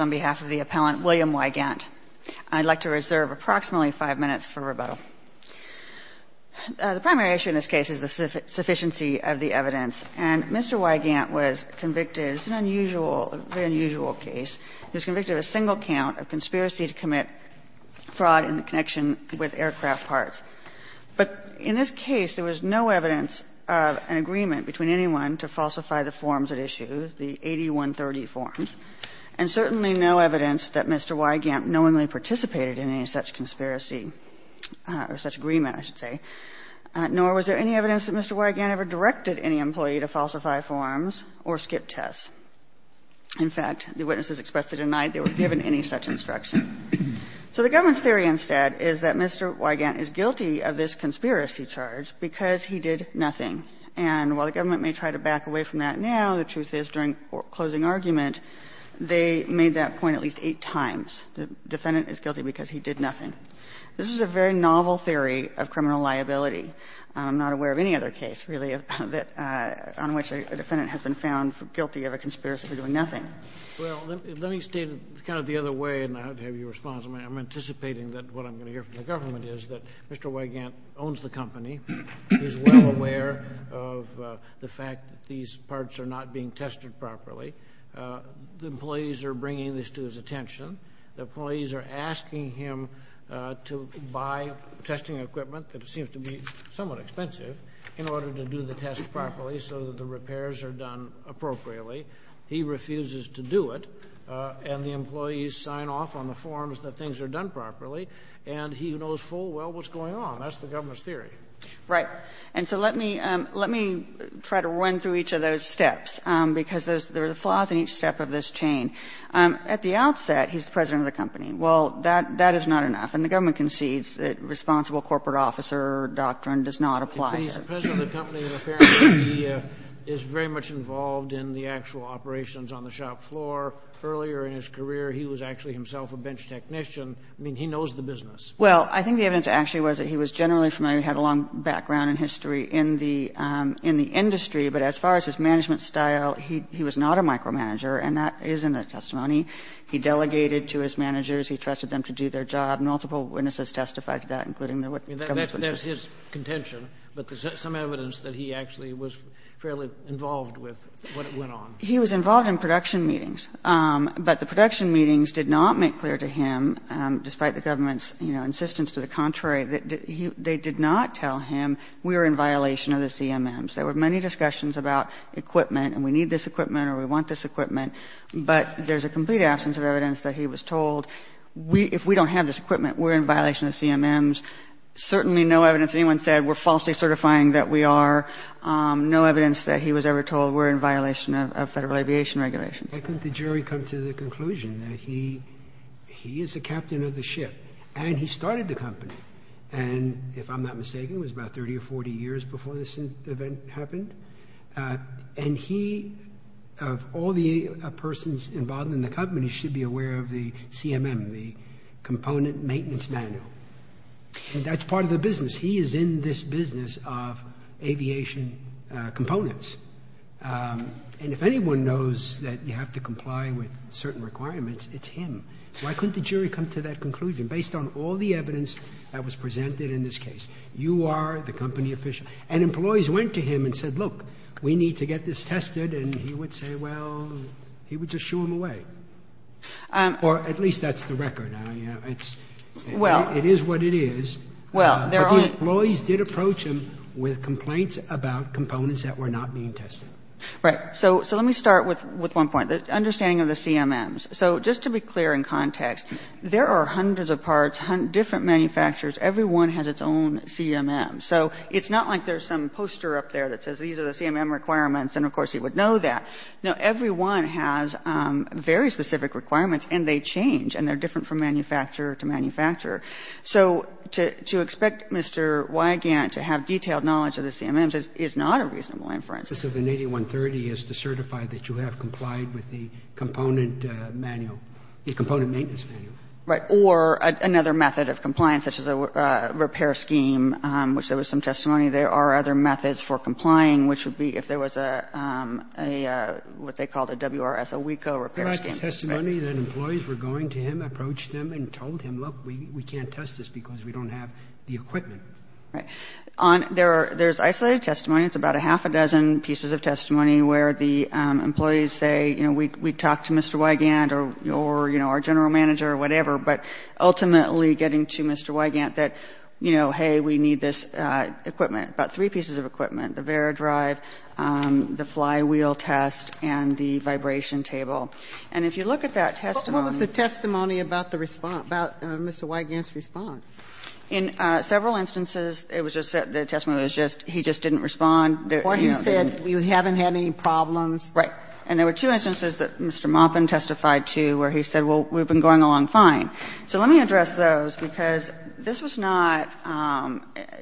on behalf of the appellant, William Weygandt. I'd like to reserve approximately five minutes for rebuttal. The primary issue in this case is the sufficiency of the evidence. And Mr. Weygandt was convicted, it's an unusual, very unusual case, he was convicted of a single count of conspiracy to commit fraud in connection with aircraft parts. But in this case, there was no evidence of an agreement between anyone to falsify the forms at issue, the 8130 forms, and certainly no evidence that Mr. Weygandt knowingly participated in any such conspiracy or such agreement, I should say, nor was there any evidence that Mr. Weygandt ever directed any employee to falsify forms or skip tests. In fact, the witnesses expressed they denied they were given any such instruction. So the government's theory instead is that Mr. Weygandt is guilty of this conspiracy charge because he did nothing. And while the government may try to back away from that now, the truth is during closing argument, they made that point at least eight times, the defendant is guilty because he did nothing. This is a very novel theory of criminal liability. I'm not aware of any other case, really, that — on which a defendant has been found guilty of a conspiracy for doing nothing. Well, let me state it kind of the other way, and I'd have your response. I'm anticipating that what I'm going to hear from the government is that Mr. Weygandt is guilty of the fact that these parts are not being tested properly. The employees are bringing this to his attention. The employees are asking him to buy testing equipment that seems to be somewhat expensive in order to do the tests properly so that the repairs are done appropriately. He refuses to do it, and the employees sign off on the forms that things are done properly, and he knows full well what's going on. That's the government's theory. Right. And so let me try to run through each of those steps, because there are flaws in each step of this chain. At the outset, he's the president of the company. Well, that is not enough, and the government concedes that responsible corporate officer doctrine does not apply here. Kennedy, he's the president of the company, and apparently he is very much involved in the actual operations on the shop floor. Earlier in his career, he was actually himself a bench technician. I mean, he knows the business. Well, I think the evidence actually was that he was generally familiar, had a long background in history in the industry, but as far as his management style, he was not a micromanager, and that is in the testimony. He delegated to his managers. He trusted them to do their job. Multiple witnesses testified to that, including the government's witnesses. That's his contention, but there's some evidence that he actually was fairly involved with what went on. He was involved in production meetings, but the production meetings did not make clear to him, despite the government's, you know, insistence to the contrary, that they did not tell him, we are in violation of the CMMs. There were many discussions about equipment, and we need this equipment or we want this equipment, but there's a complete absence of evidence that he was told, if we don't have this equipment, we're in violation of the CMMs. Certainly no evidence anyone said we're falsely certifying that we are. No evidence that he was ever told we're in violation of Federal Aviation Regulations. Sotomayor, why couldn't the jury come to the conclusion that he is the captain of the ship and he started the company? And if I'm not mistaken, it was about 30 or 40 years before this event happened. And he, of all the persons involved in the company, should be aware of the CMM, the Component Maintenance Manual. That's part of the business. He is in this business of aviation components. And if anyone knows that you have to comply with certain requirements, it's him. Why couldn't the jury come to that conclusion? And based on all the evidence that was presented in this case, you are the company official. And employees went to him and said, look, we need to get this tested. And he would say, well, he would just shoo him away. Or at least that's the record now, you know, it's, it is what it is. But the employees did approach him with complaints about components that were not being tested. Right. So let me start with one point, the understanding of the CMMs. So just to be clear in context, there are hundreds of parts, different manufacturers. Everyone has its own CMM. So it's not like there's some poster up there that says these are the CMM requirements and, of course, he would know that. No, everyone has very specific requirements and they change and they're different from manufacturer to manufacturer. So to expect Mr. Wigand to have detailed knowledge of the CMMs is not a reasonable inference. The purpose of an 8130 is to certify that you have complied with the component manual, the component maintenance manual. Right. Or another method of compliance, such as a repair scheme, which there was some testimony there are other methods for complying, which would be if there was a, a, what they called a WRS, a WICO repair scheme. And I can testimony that employees were going to him, approached him and told him, look, we can't test this because we don't have the equipment. Right. On, there are, there's isolated testimony, it's about a half a dozen pieces of testimony where the employees say, you know, we, we talked to Mr. Wigand or, or, you know, our general manager or whatever, but ultimately getting to Mr. Wigand that, you know, hey, we need this equipment. About three pieces of equipment, the Vera drive, the flywheel test, and the vibration table. And if you look at that testimony. But what was the testimony about the response, about Mr. Wigand's response? In several instances, it was just that the testimony was just, he just didn't respond. Or he said, we haven't had any problems. Right. And there were two instances that Mr. Maupin testified to where he said, well, we've been going along fine. So let me address those, because this was not,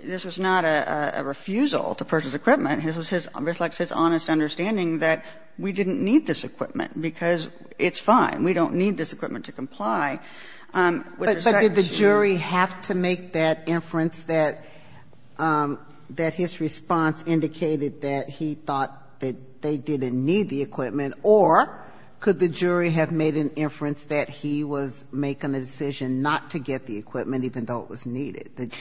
this was not a refusal to purchase equipment. This was his, reflects his honest understanding that we didn't need this equipment because it's fine. We don't need this equipment to comply. But did the jury have to make that inference, that his response indicated that he thought that they didn't need the equipment, or could the jury have made an inference that he was making a decision not to get the equipment, even though it was needed?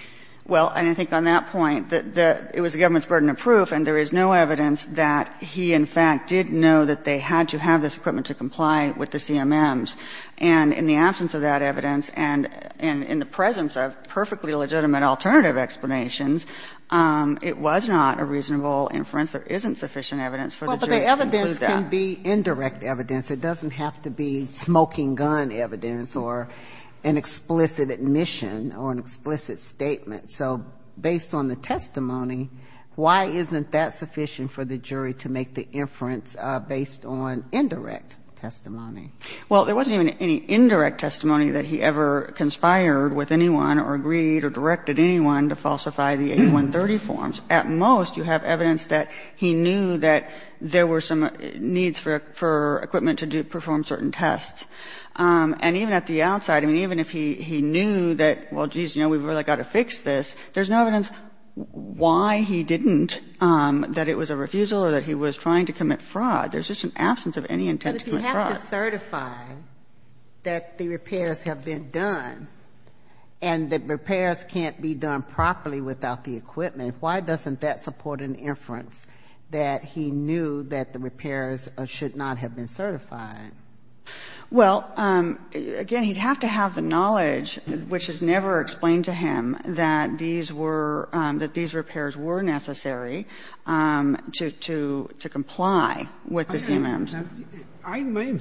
Well, and I think on that point, it was the government's burden of proof, and there is no evidence that he, in fact, did know that they had to have this equipment to comply with the CMMs. And in the absence of that evidence, and in the presence of perfectly legitimate alternative explanations, it was not a reasonable inference. There isn't sufficient evidence for the jury to conclude that. Well, but the evidence can be indirect evidence. It doesn't have to be smoking gun evidence or an explicit admission or an explicit statement. So based on the testimony, why isn't that sufficient for the jury to make the inference based on indirect testimony? Well, there wasn't even any indirect testimony that he ever conspired with anyone or agreed or directed anyone to falsify the 8130 forms. At most, you have evidence that he knew that there were some needs for equipment to perform certain tests. And even at the outside, I mean, even if he knew that, well, geez, you know, we've really got to fix this, there's no evidence why he didn't, that it was a refusal or that he was trying to commit fraud. There's just an absence of any intent to commit fraud. But if you have to certify that the repairs have been done and the repairs can't be done properly without the equipment, why doesn't that support an inference that he knew that the repairs should not have been certified? Well, again, he'd have to have the knowledge, which is never explained to him, that these were, that these repairs were necessary to comply with the CMMs. And I mean,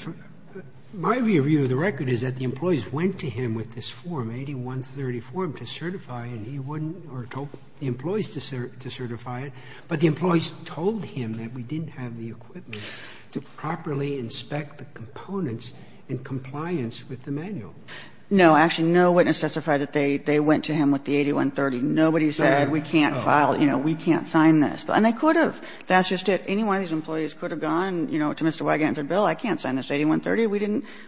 my view of the record is that the employees went to him with this form, 8130 form, to certify it, and he wouldn't or told the employees to certify it, but the employees told him that we didn't have the equipment to properly inspect the components in compliance with the manual. No. Actually, no witness testified that they went to him with the 8130. Nobody said we can't file, you know, we can't sign this. And they could have. That's just it. Any one of these employees could have gone, you know, to Mr. Wygant and said, Bill, I can't sign this 8130.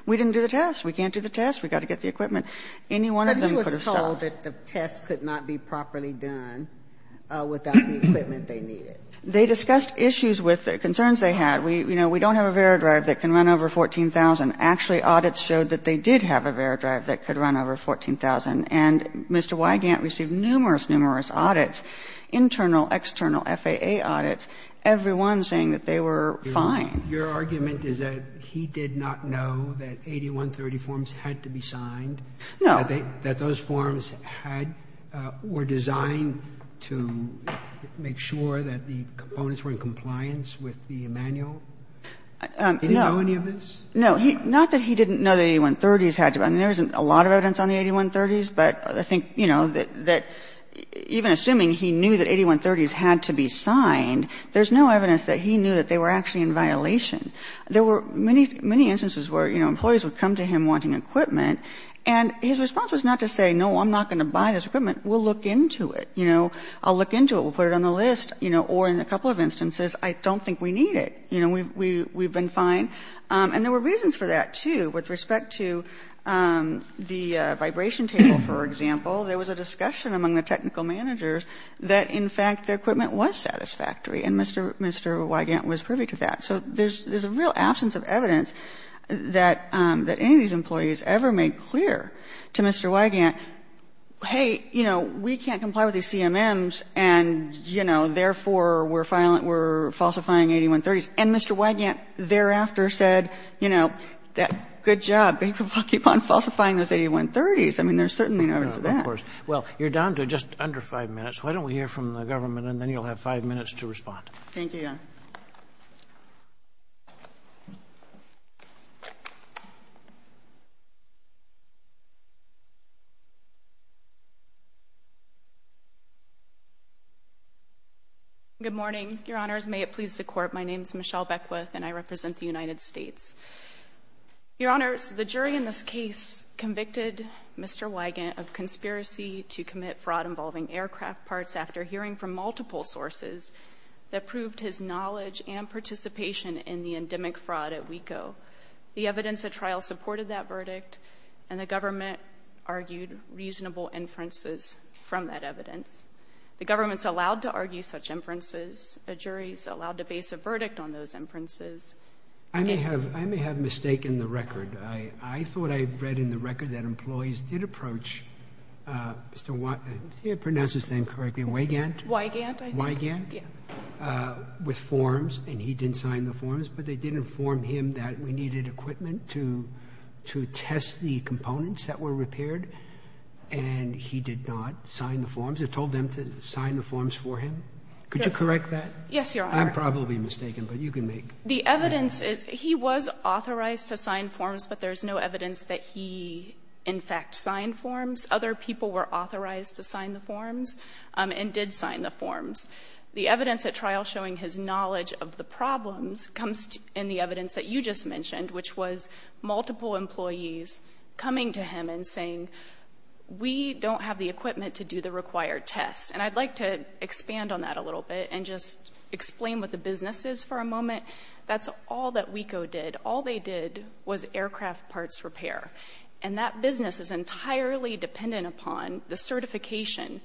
We didn't do the test. We can't do the test. We've got to get the equipment. Any one of them could have stopped. But he was told that the test could not be properly done without the equipment they needed. They discussed issues with the concerns they had. You know, we don't have a Veradrive that can run over 14,000. Actually, audits showed that they did have a Veradrive that could run over 14,000. And Mr. Wygant received numerous, numerous audits, internal, external FAA audits. Everyone saying that they were fine. Roberts, your argument is that he did not know that 8130 forms had to be signed? No. That those forms had or were designed to make sure that the components were in compliance with the manual? No. Did he know any of this? No. Not that he didn't know that 8130s had to be ---- I mean, there isn't a lot of evidence on the 8130s, but I think, you know, that even assuming he knew that 8130s had to be signed, there's no evidence that he knew that they were actually in violation. There were many, many instances where, you know, employees would come to him wanting equipment, and his response was not to say, no, I'm not going to buy this equipment. We'll look into it. You know, I'll look into it. We'll put it on the list. You know, or in a couple of instances, I don't think we need it. You know, we've been fine. And there were reasons for that, too. With respect to the vibration table, for example, there was a discussion among the technical managers that, in fact, their equipment was satisfactory. And Mr. Wygant was privy to that. So there's a real absence of evidence that any of these employees ever made clear to Mr. Wygant, hey, you know, we can't comply with these CMMs, and, you know, therefore we're falsifying 8130s. And Mr. Wygant thereafter said, you know, good job, but he will keep on falsifying those 8130s. I mean, there's certainly no evidence of that. Well, you're down to just under 5 minutes. Why don't we hear from the government, and then you'll have 5 minutes to respond. Thank you, Your Honor. Good morning, Your Honors. May it please the Court, my name is Michelle Beckwith, and I represent the United States. Your Honors, the jury in this case convicted Mr. Wygant of conspiracy to commit fraud involving aircraft parts after hearing from multiple sources that proved his knowledge and participation in the endemic fraud at WECO. The evidence at trial supported that verdict, and the government argued reasonable inferences from that evidence. The government's allowed to argue such inferences. A jury's allowed to base a verdict on those inferences. I may have mistaken the record. I thought I read in the record that employees did approach Mr. Wygant, if I pronounce his name correctly, Wygant? Wygant, I think. Wygant? Yeah. With forms, and he didn't sign the forms, but they did inform him that we needed equipment to test the components that were repaired, and he did not sign the forms. It told them to sign the forms for him. Could you correct that? Yes, Your Honor. I'm probably mistaken, but you can make. The evidence is he was authorized to sign forms, but there's no evidence that he, in fact, signed forms. Other people were authorized to sign the forms and did sign the forms. The evidence at trial showing his knowledge of the problems comes in the evidence that you just mentioned, which was multiple employees coming to him and saying, we don't have the equipment to do the required tests. And I'd like to expand on that a little bit and just explain what the business is for a moment. That's all that WECO did. All they did was aircraft parts repair. And that business is entirely dependent upon the certification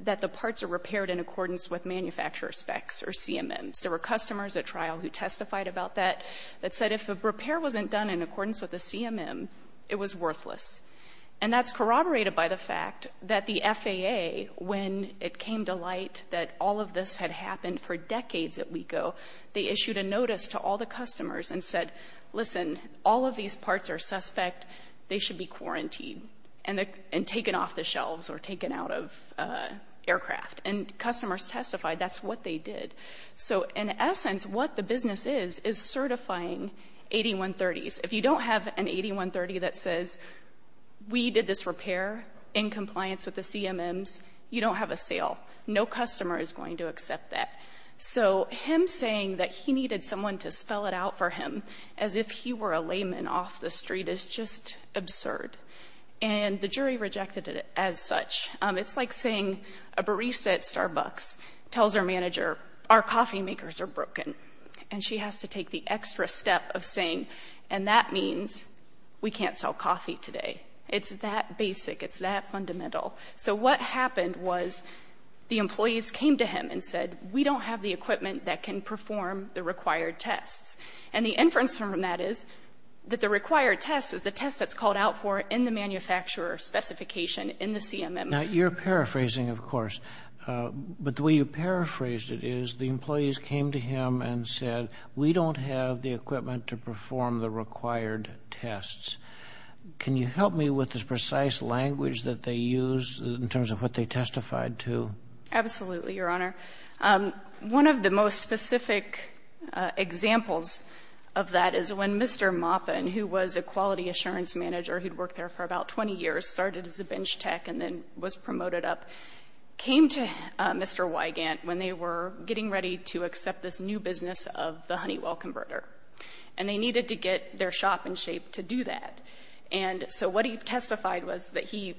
that the parts are repaired in accordance with manufacturer specs or CMMs. There were customers at trial who testified about that, that said if a repair wasn't done in accordance with the CMM, it was worthless. And that's corroborated by the fact that the FAA, when it came to light that all of this had happened for decades at WECO, they issued a notice to all the customers and said, listen, all of these parts are suspect. They should be quarantined and taken off the shelves or taken out of aircraft. And customers testified that's what they did. So, in essence, what the business is is certifying 8130s. If you don't have an 8130 that says we did this repair in compliance with the CMMs, you don't have a sale. No customer is going to accept that. So him saying that he needed someone to spell it out for him as if he were a layman off the street is just absurd. And the jury rejected it as such. It's like saying a barista at Starbucks tells her manager, our coffee makers are broken, and she has to take the extra step of saying, and that means we can't sell coffee today. It's that basic. It's that fundamental. So what happened was the employees came to him and said, we don't have the equipment that can perform the required tests. And the inference from that is that the required test is the test that's called out for in the manufacturer specification in the CMM. Now, you're paraphrasing, of course. But the way you paraphrased it is the employees came to him and said, we don't have the equipment to perform the required tests. Can you help me with this precise language that they use in terms of what they testified to? Absolutely, Your Honor. One of the most specific examples of that is when Mr. Maupin, who was a quality assurance manager who'd worked there for about 20 years, started as a bench tech and then was promoted up, came to Mr. Wygant when they were getting ready to accept this new business of the Honeywell converter. And they needed to get their shop in shape to do that. And so what he testified was that he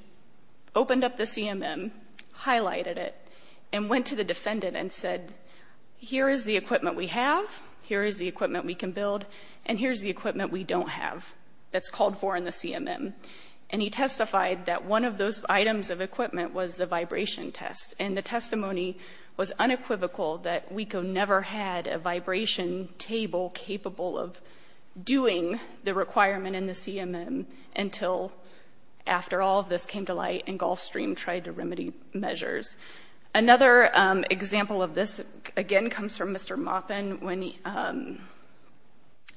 opened up the CMM, highlighted it, and went to the defendant and said, here is the equipment we have, here is the equipment we can build, and here's the equipment we don't have that's called for in the CMM. And he testified that one of those items of equipment was the vibration test. And the testimony was unequivocal that WECO never had a vibration table capable of doing the requirement in the CMM until after all of this came to light and Gulfstream tried to remedy measures. Another example of this, again, comes from Mr. Maupin when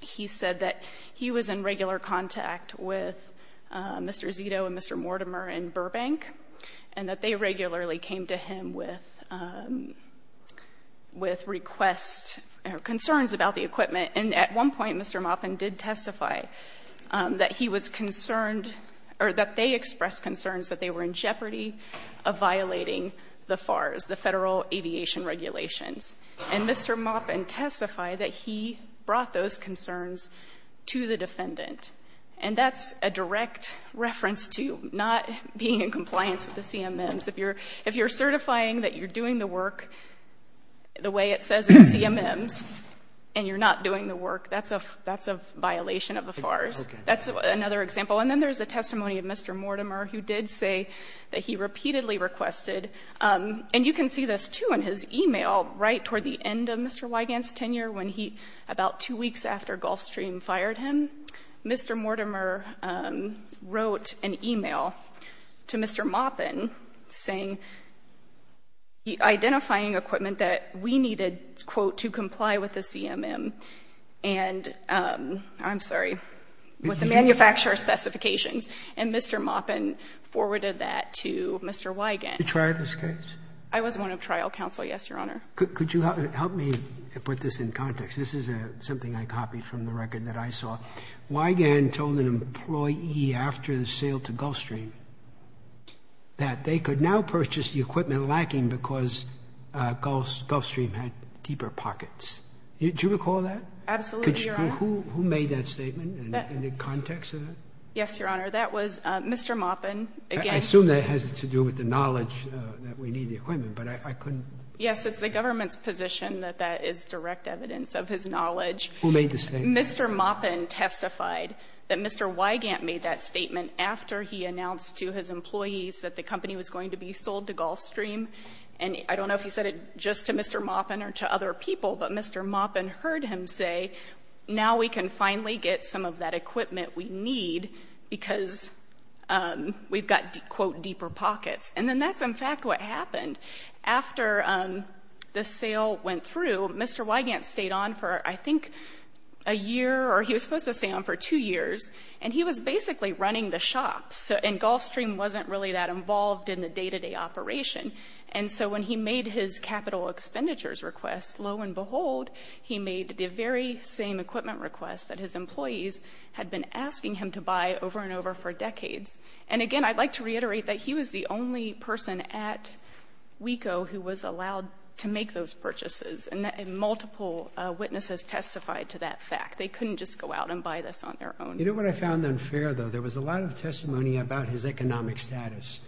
he said that he was in regular contact with Mr. Zito and Mr. Mortimer in Burbank. And that they regularly came to him with request or concerns about the equipment. And at one point, Mr. Maupin did testify that he was concerned, or that they expressed concerns that they were in jeopardy of violating the FARs, the Federal Aviation Regulations. And Mr. Maupin testified that he brought those concerns to the defendant. And that's a direct reference to not being in compliance with the CMMs. If you're certifying that you're doing the work the way it says in the CMMs, and you're not doing the work, that's a violation of the FARs. That's another example. And then there's a testimony of Mr. Mortimer who did say that he repeatedly requested. And you can see this too in his email right toward the end of Mr. Wigand's tenure when he, about two weeks after Gulfstream fired him. Mr. Mortimer wrote an email to Mr. Maupin saying, identifying equipment that we needed, quote, to comply with the CMM. And, I'm sorry, with the manufacturer's specifications. And Mr. Maupin forwarded that to Mr. Wigand. Did you try this case? I was one of trial counsel, yes, Your Honor. Could you help me put this in context? This is something I copied from the record that I saw. Wigand told an employee after the sale to Gulfstream that they could now purchase the equipment lacking because Gulfstream had deeper pockets. Do you recall that? Absolutely, Your Honor. Who made that statement in the context of that? Yes, Your Honor. That was Mr. Maupin. I assume that has to do with the knowledge that we need the equipment, but I couldn't. Yes, it's the government's position that that is direct evidence of his knowledge. Who made the statement? Mr. Maupin testified that Mr. Wigand made that statement after he announced to his employees that the company was going to be sold to Gulfstream. And I don't know if he said it just to Mr. Maupin or to other people, but Mr. Maupin heard him say, now we can finally get some of that equipment we need because we've got, quote, deeper pockets. And then that's, in fact, what happened. After the sale went through, Mr. Wigand stayed on for, I think, a year, or he was supposed to stay on for two years. And he was basically running the shop, and Gulfstream wasn't really that involved in the day-to-day operation. And so when he made his capital expenditures request, lo and behold, he made the very same equipment request that his employees had been asking him to buy over and over for decades. And again, I'd like to reiterate that he was the only person at WECO who was allowed to make those purchases. And multiple witnesses testified to that fact. They couldn't just go out and buy this on their own. You know what I found unfair, though? There was a lot of testimony about his economic status.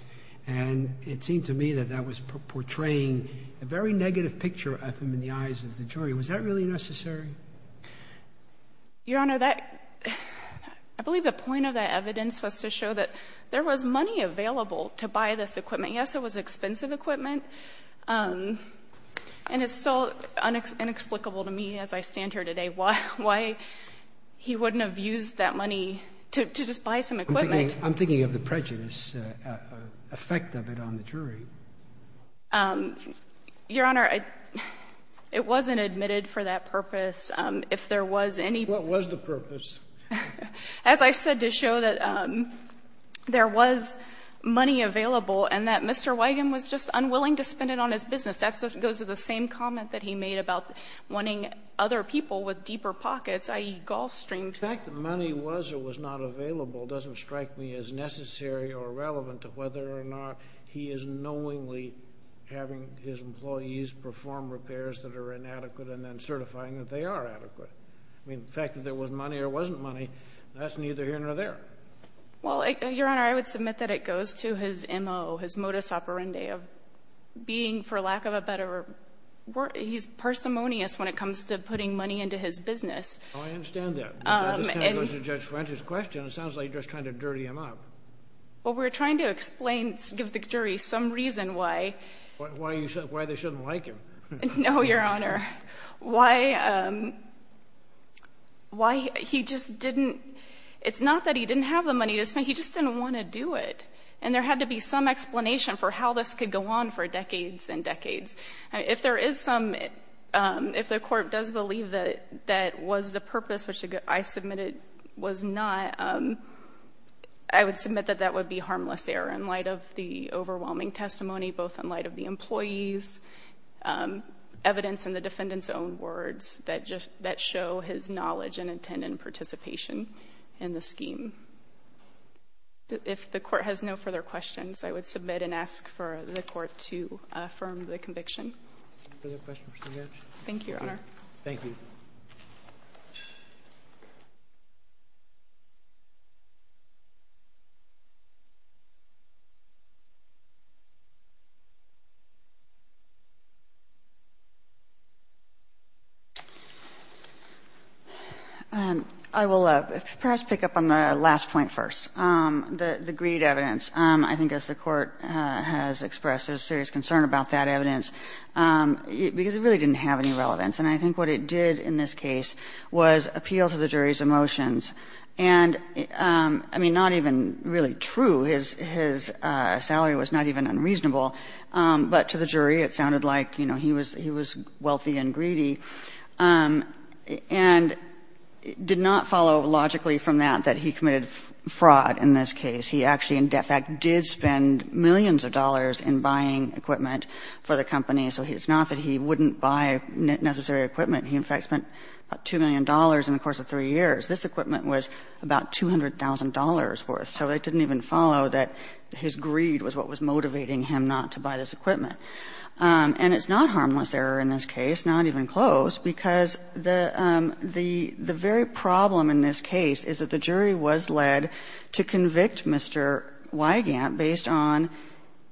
And it seemed to me that that was portraying a very negative picture of him in the eyes of the jury. Was that really necessary? Your Honor, I believe the point of that evidence was to show that there was money available to buy this equipment. Yes, it was expensive equipment. And it's still inexplicable to me as I stand here today why he wouldn't have used that money to just buy some equipment. I'm thinking of the prejudice effect of it on the jury. Your Honor, it wasn't admitted for that purpose. If there was any- What was the purpose? As I said, to show that there was money available and that Mr. Wigand was just unwilling to spend it on his business. That goes to the same comment that he made about wanting other people with deeper pockets, i.e. golf strings. The fact that money was or was not available doesn't strike me as necessary or relevant to whether or not he is knowingly having his employees perform repairs that are inadequate and then certifying that they are adequate. I mean, the fact that there was money or wasn't money, that's neither here nor there. Well, Your Honor, I would submit that it goes to his MO, his modus operandi of being, for lack of a better word, he's parsimonious when it comes to putting money into his business. Oh, I understand that. Now this kind of goes to Judge French's question. It sounds like you're just trying to dirty him up. Well, we're trying to explain, give the jury some reason why. Why they shouldn't like him. No, Your Honor. Why he just didn't- it's not that he didn't have the money. He just didn't want to do it. And there had to be some explanation for how this could go on for decades and decades. If there is some, if the court does believe that that was the purpose, which I submitted was not, I would submit that that would be harmless error in light of the overwhelming testimony, both in light of the employees' evidence and the defendant's own words that just, that show his knowledge and intent in participation in the scheme. If the court has no further questions, I would submit and ask for the court to affirm the conviction. Further questions? Thank you, Your Honor. Thank you. I will perhaps pick up on the last point first, the greed evidence. I think as the Court has expressed, there's serious concern about that evidence, because it really didn't have any relevance. And I think what it did in this case was appeal to the jury's emotions. And, I mean, not even really true. His salary was not even unreasonable. But to the jury, it sounded like, you know, he was wealthy and greedy. And it did not follow logically from that that he committed fraud in this case. He actually, in debt fact, did spend millions of dollars in buying equipment for the company. So it's not that he wouldn't buy necessary equipment. He, in fact, spent about $2 million in the course of 3 years. This equipment was about $200,000 worth. So it didn't even follow that his greed was what was motivating him not to buy this equipment. And it's not harmless error in this case, not even close, because the very problem in this case is that the jury was led to convict Mr. Weigand based on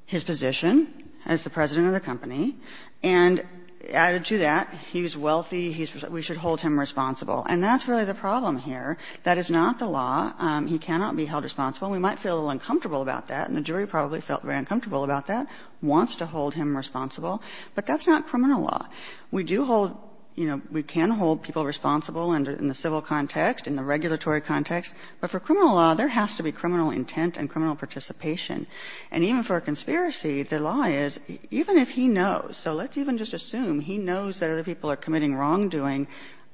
his position as the president of the company. And added to that, he's wealthy, we should hold him responsible. And that's really the problem here. That is not the law. He cannot be held responsible. We might feel a little uncomfortable about that, and the jury probably felt very uncomfortable about that, wants to hold him responsible. But that's not criminal law. We do hold, you know, we can hold people responsible in the civil context, in the regulatory context. But for criminal law, there has to be criminal intent and criminal participation. And even for a conspiracy, the law is, even if he knows, so let's even just assume he knows that other people are committing wrongdoing,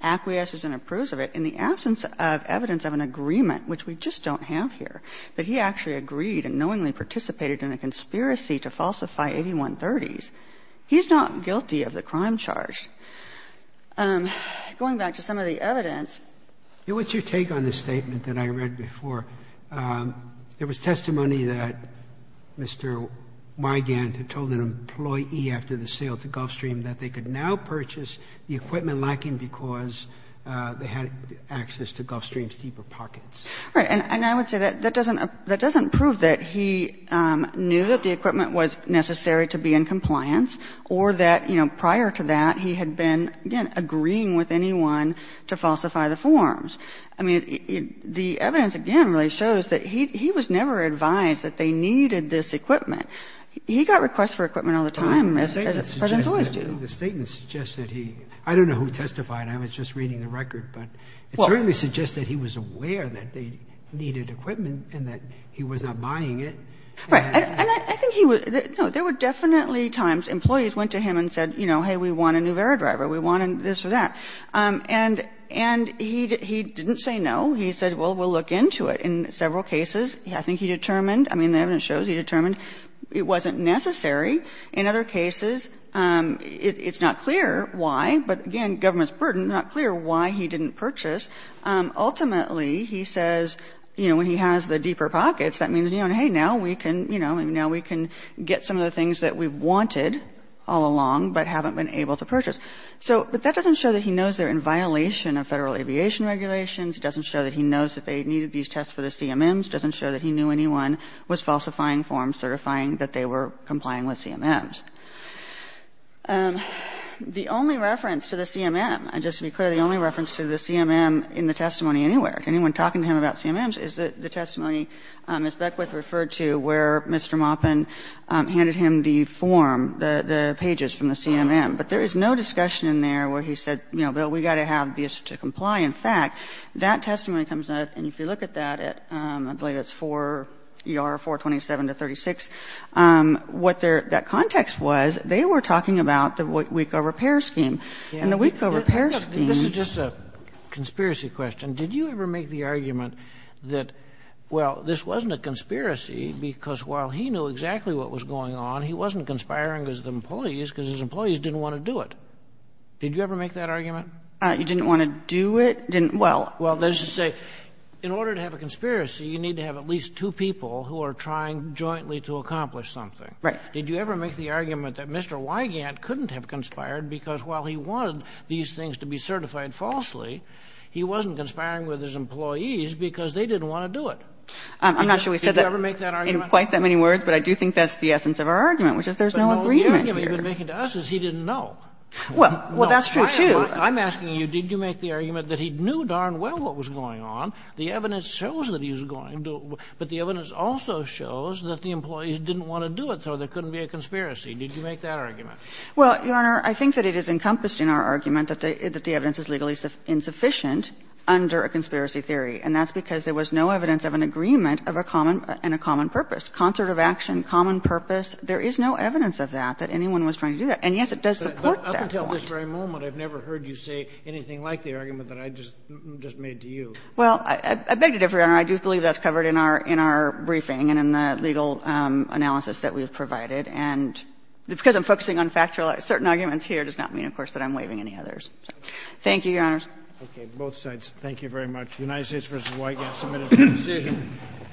acquiesces and approves of it, in the absence of evidence of an agreement, which we just don't have here, that he actually agreed and knowingly participated in a conspiracy to falsify 8130s, he's not guilty of the crime charge. Going back to some of the evidence. Sotomayor, what's your take on the statement that I read before? There was testimony that Mr. Mygant had told an employee after the sale to Gulfstream that they could now purchase the equipment lacking because they had access to Gulfstream's deeper pockets. All right. And I would say that that doesn't prove that he knew that the equipment was necessary to be in compliance or that, you know, prior to that, he had been, again, agreeing with anyone to falsify the forms. I mean, the evidence, again, really shows that he was never advised that they needed this equipment. He got requests for equipment all the time, as Presidents always do. The statement suggests that he – I don't know who testified. I was just reading the record. But it certainly suggests that he was aware that they needed equipment and that he was not buying it. Right. And I think he was – no, there were definitely times employees went to him and said, you know, hey, we want a new air driver. We want this or that. And he didn't say no. He said, well, we'll look into it. In several cases, I think he determined – I mean, the evidence shows he determined it wasn't necessary. In other cases, it's not clear why. But again, government's burden, it's not clear why he didn't purchase. Ultimately, he says, you know, when he has the deeper pockets, that means, you know, hey, now we can, you know, now we can get some of the things that we wanted all along but haven't been able to purchase. But that doesn't show that he knows they're in violation of Federal aviation regulations. It doesn't show that he knows that they needed these tests for the CMMs. It doesn't show that he knew anyone was falsifying forms certifying that they were complying with CMMs. The only reference to the CMM, just to be clear, the only reference to the CMM in the testimony anywhere, anyone talking to him about CMMs, is the testimony Ms. Beckwith referred to where Mr. Maupin handed him the form, the pages from the CMM. But there is no discussion in there where he said, you know, Bill, we've got to have this to comply. In fact, that testimony comes out, and if you look at that at, I believe it's 4ER, 427 to 36, what their – that context was, they were talking about the WICO repair scheme. And the WICO repair scheme – Kennedy, this is just a conspiracy question. Did you ever make the argument that, well, this wasn't a conspiracy, because while he knew exactly what was going on, he wasn't conspiring with the employees because his employees didn't want to do it? Did you ever make that argument? Beckwith. You didn't want to do it? Didn't – well – Well, let's just say, in order to have a conspiracy, you need to have at least two people who are trying jointly to accomplish something. Beckwith. Did you ever make the argument that Mr. Wigand couldn't have conspired because while he wanted these things to be certified falsely, he wasn't conspiring with his employees because they didn't want to do it? I'm not sure we said that in quite that many words, but I do think that's the essence of our argument, which is there's no agreement here. But all the argument you've been making to us is he didn't know. Well, that's true, too. I'm asking you, did you make the argument that he knew darn well what was going on, the evidence shows that he was going to, but the evidence also shows that the employees didn't want to do it, so there couldn't be a conspiracy. Did you make that argument? Well, Your Honor, I think that it is encompassed in our argument that the evidence is legally insufficient under a conspiracy theory, and that's because there was no evidence of an agreement of a common and a common purpose. Concert of action, common purpose, there is no evidence of that, that anyone was trying to do that. And, yes, it does support that point. But up until this very moment, I've never heard you say anything like the argument that I just made to you. Well, I beg your defer, Your Honor. I do believe that's covered in our briefing and in the legal analysis that we've provided, and because I'm focusing on factual, certain arguments here does not mean, of course, that I'm waiving any others. Thank you, Your Honors. Okay. Both sides, thank you very much. The United States v. White has submitted its decision.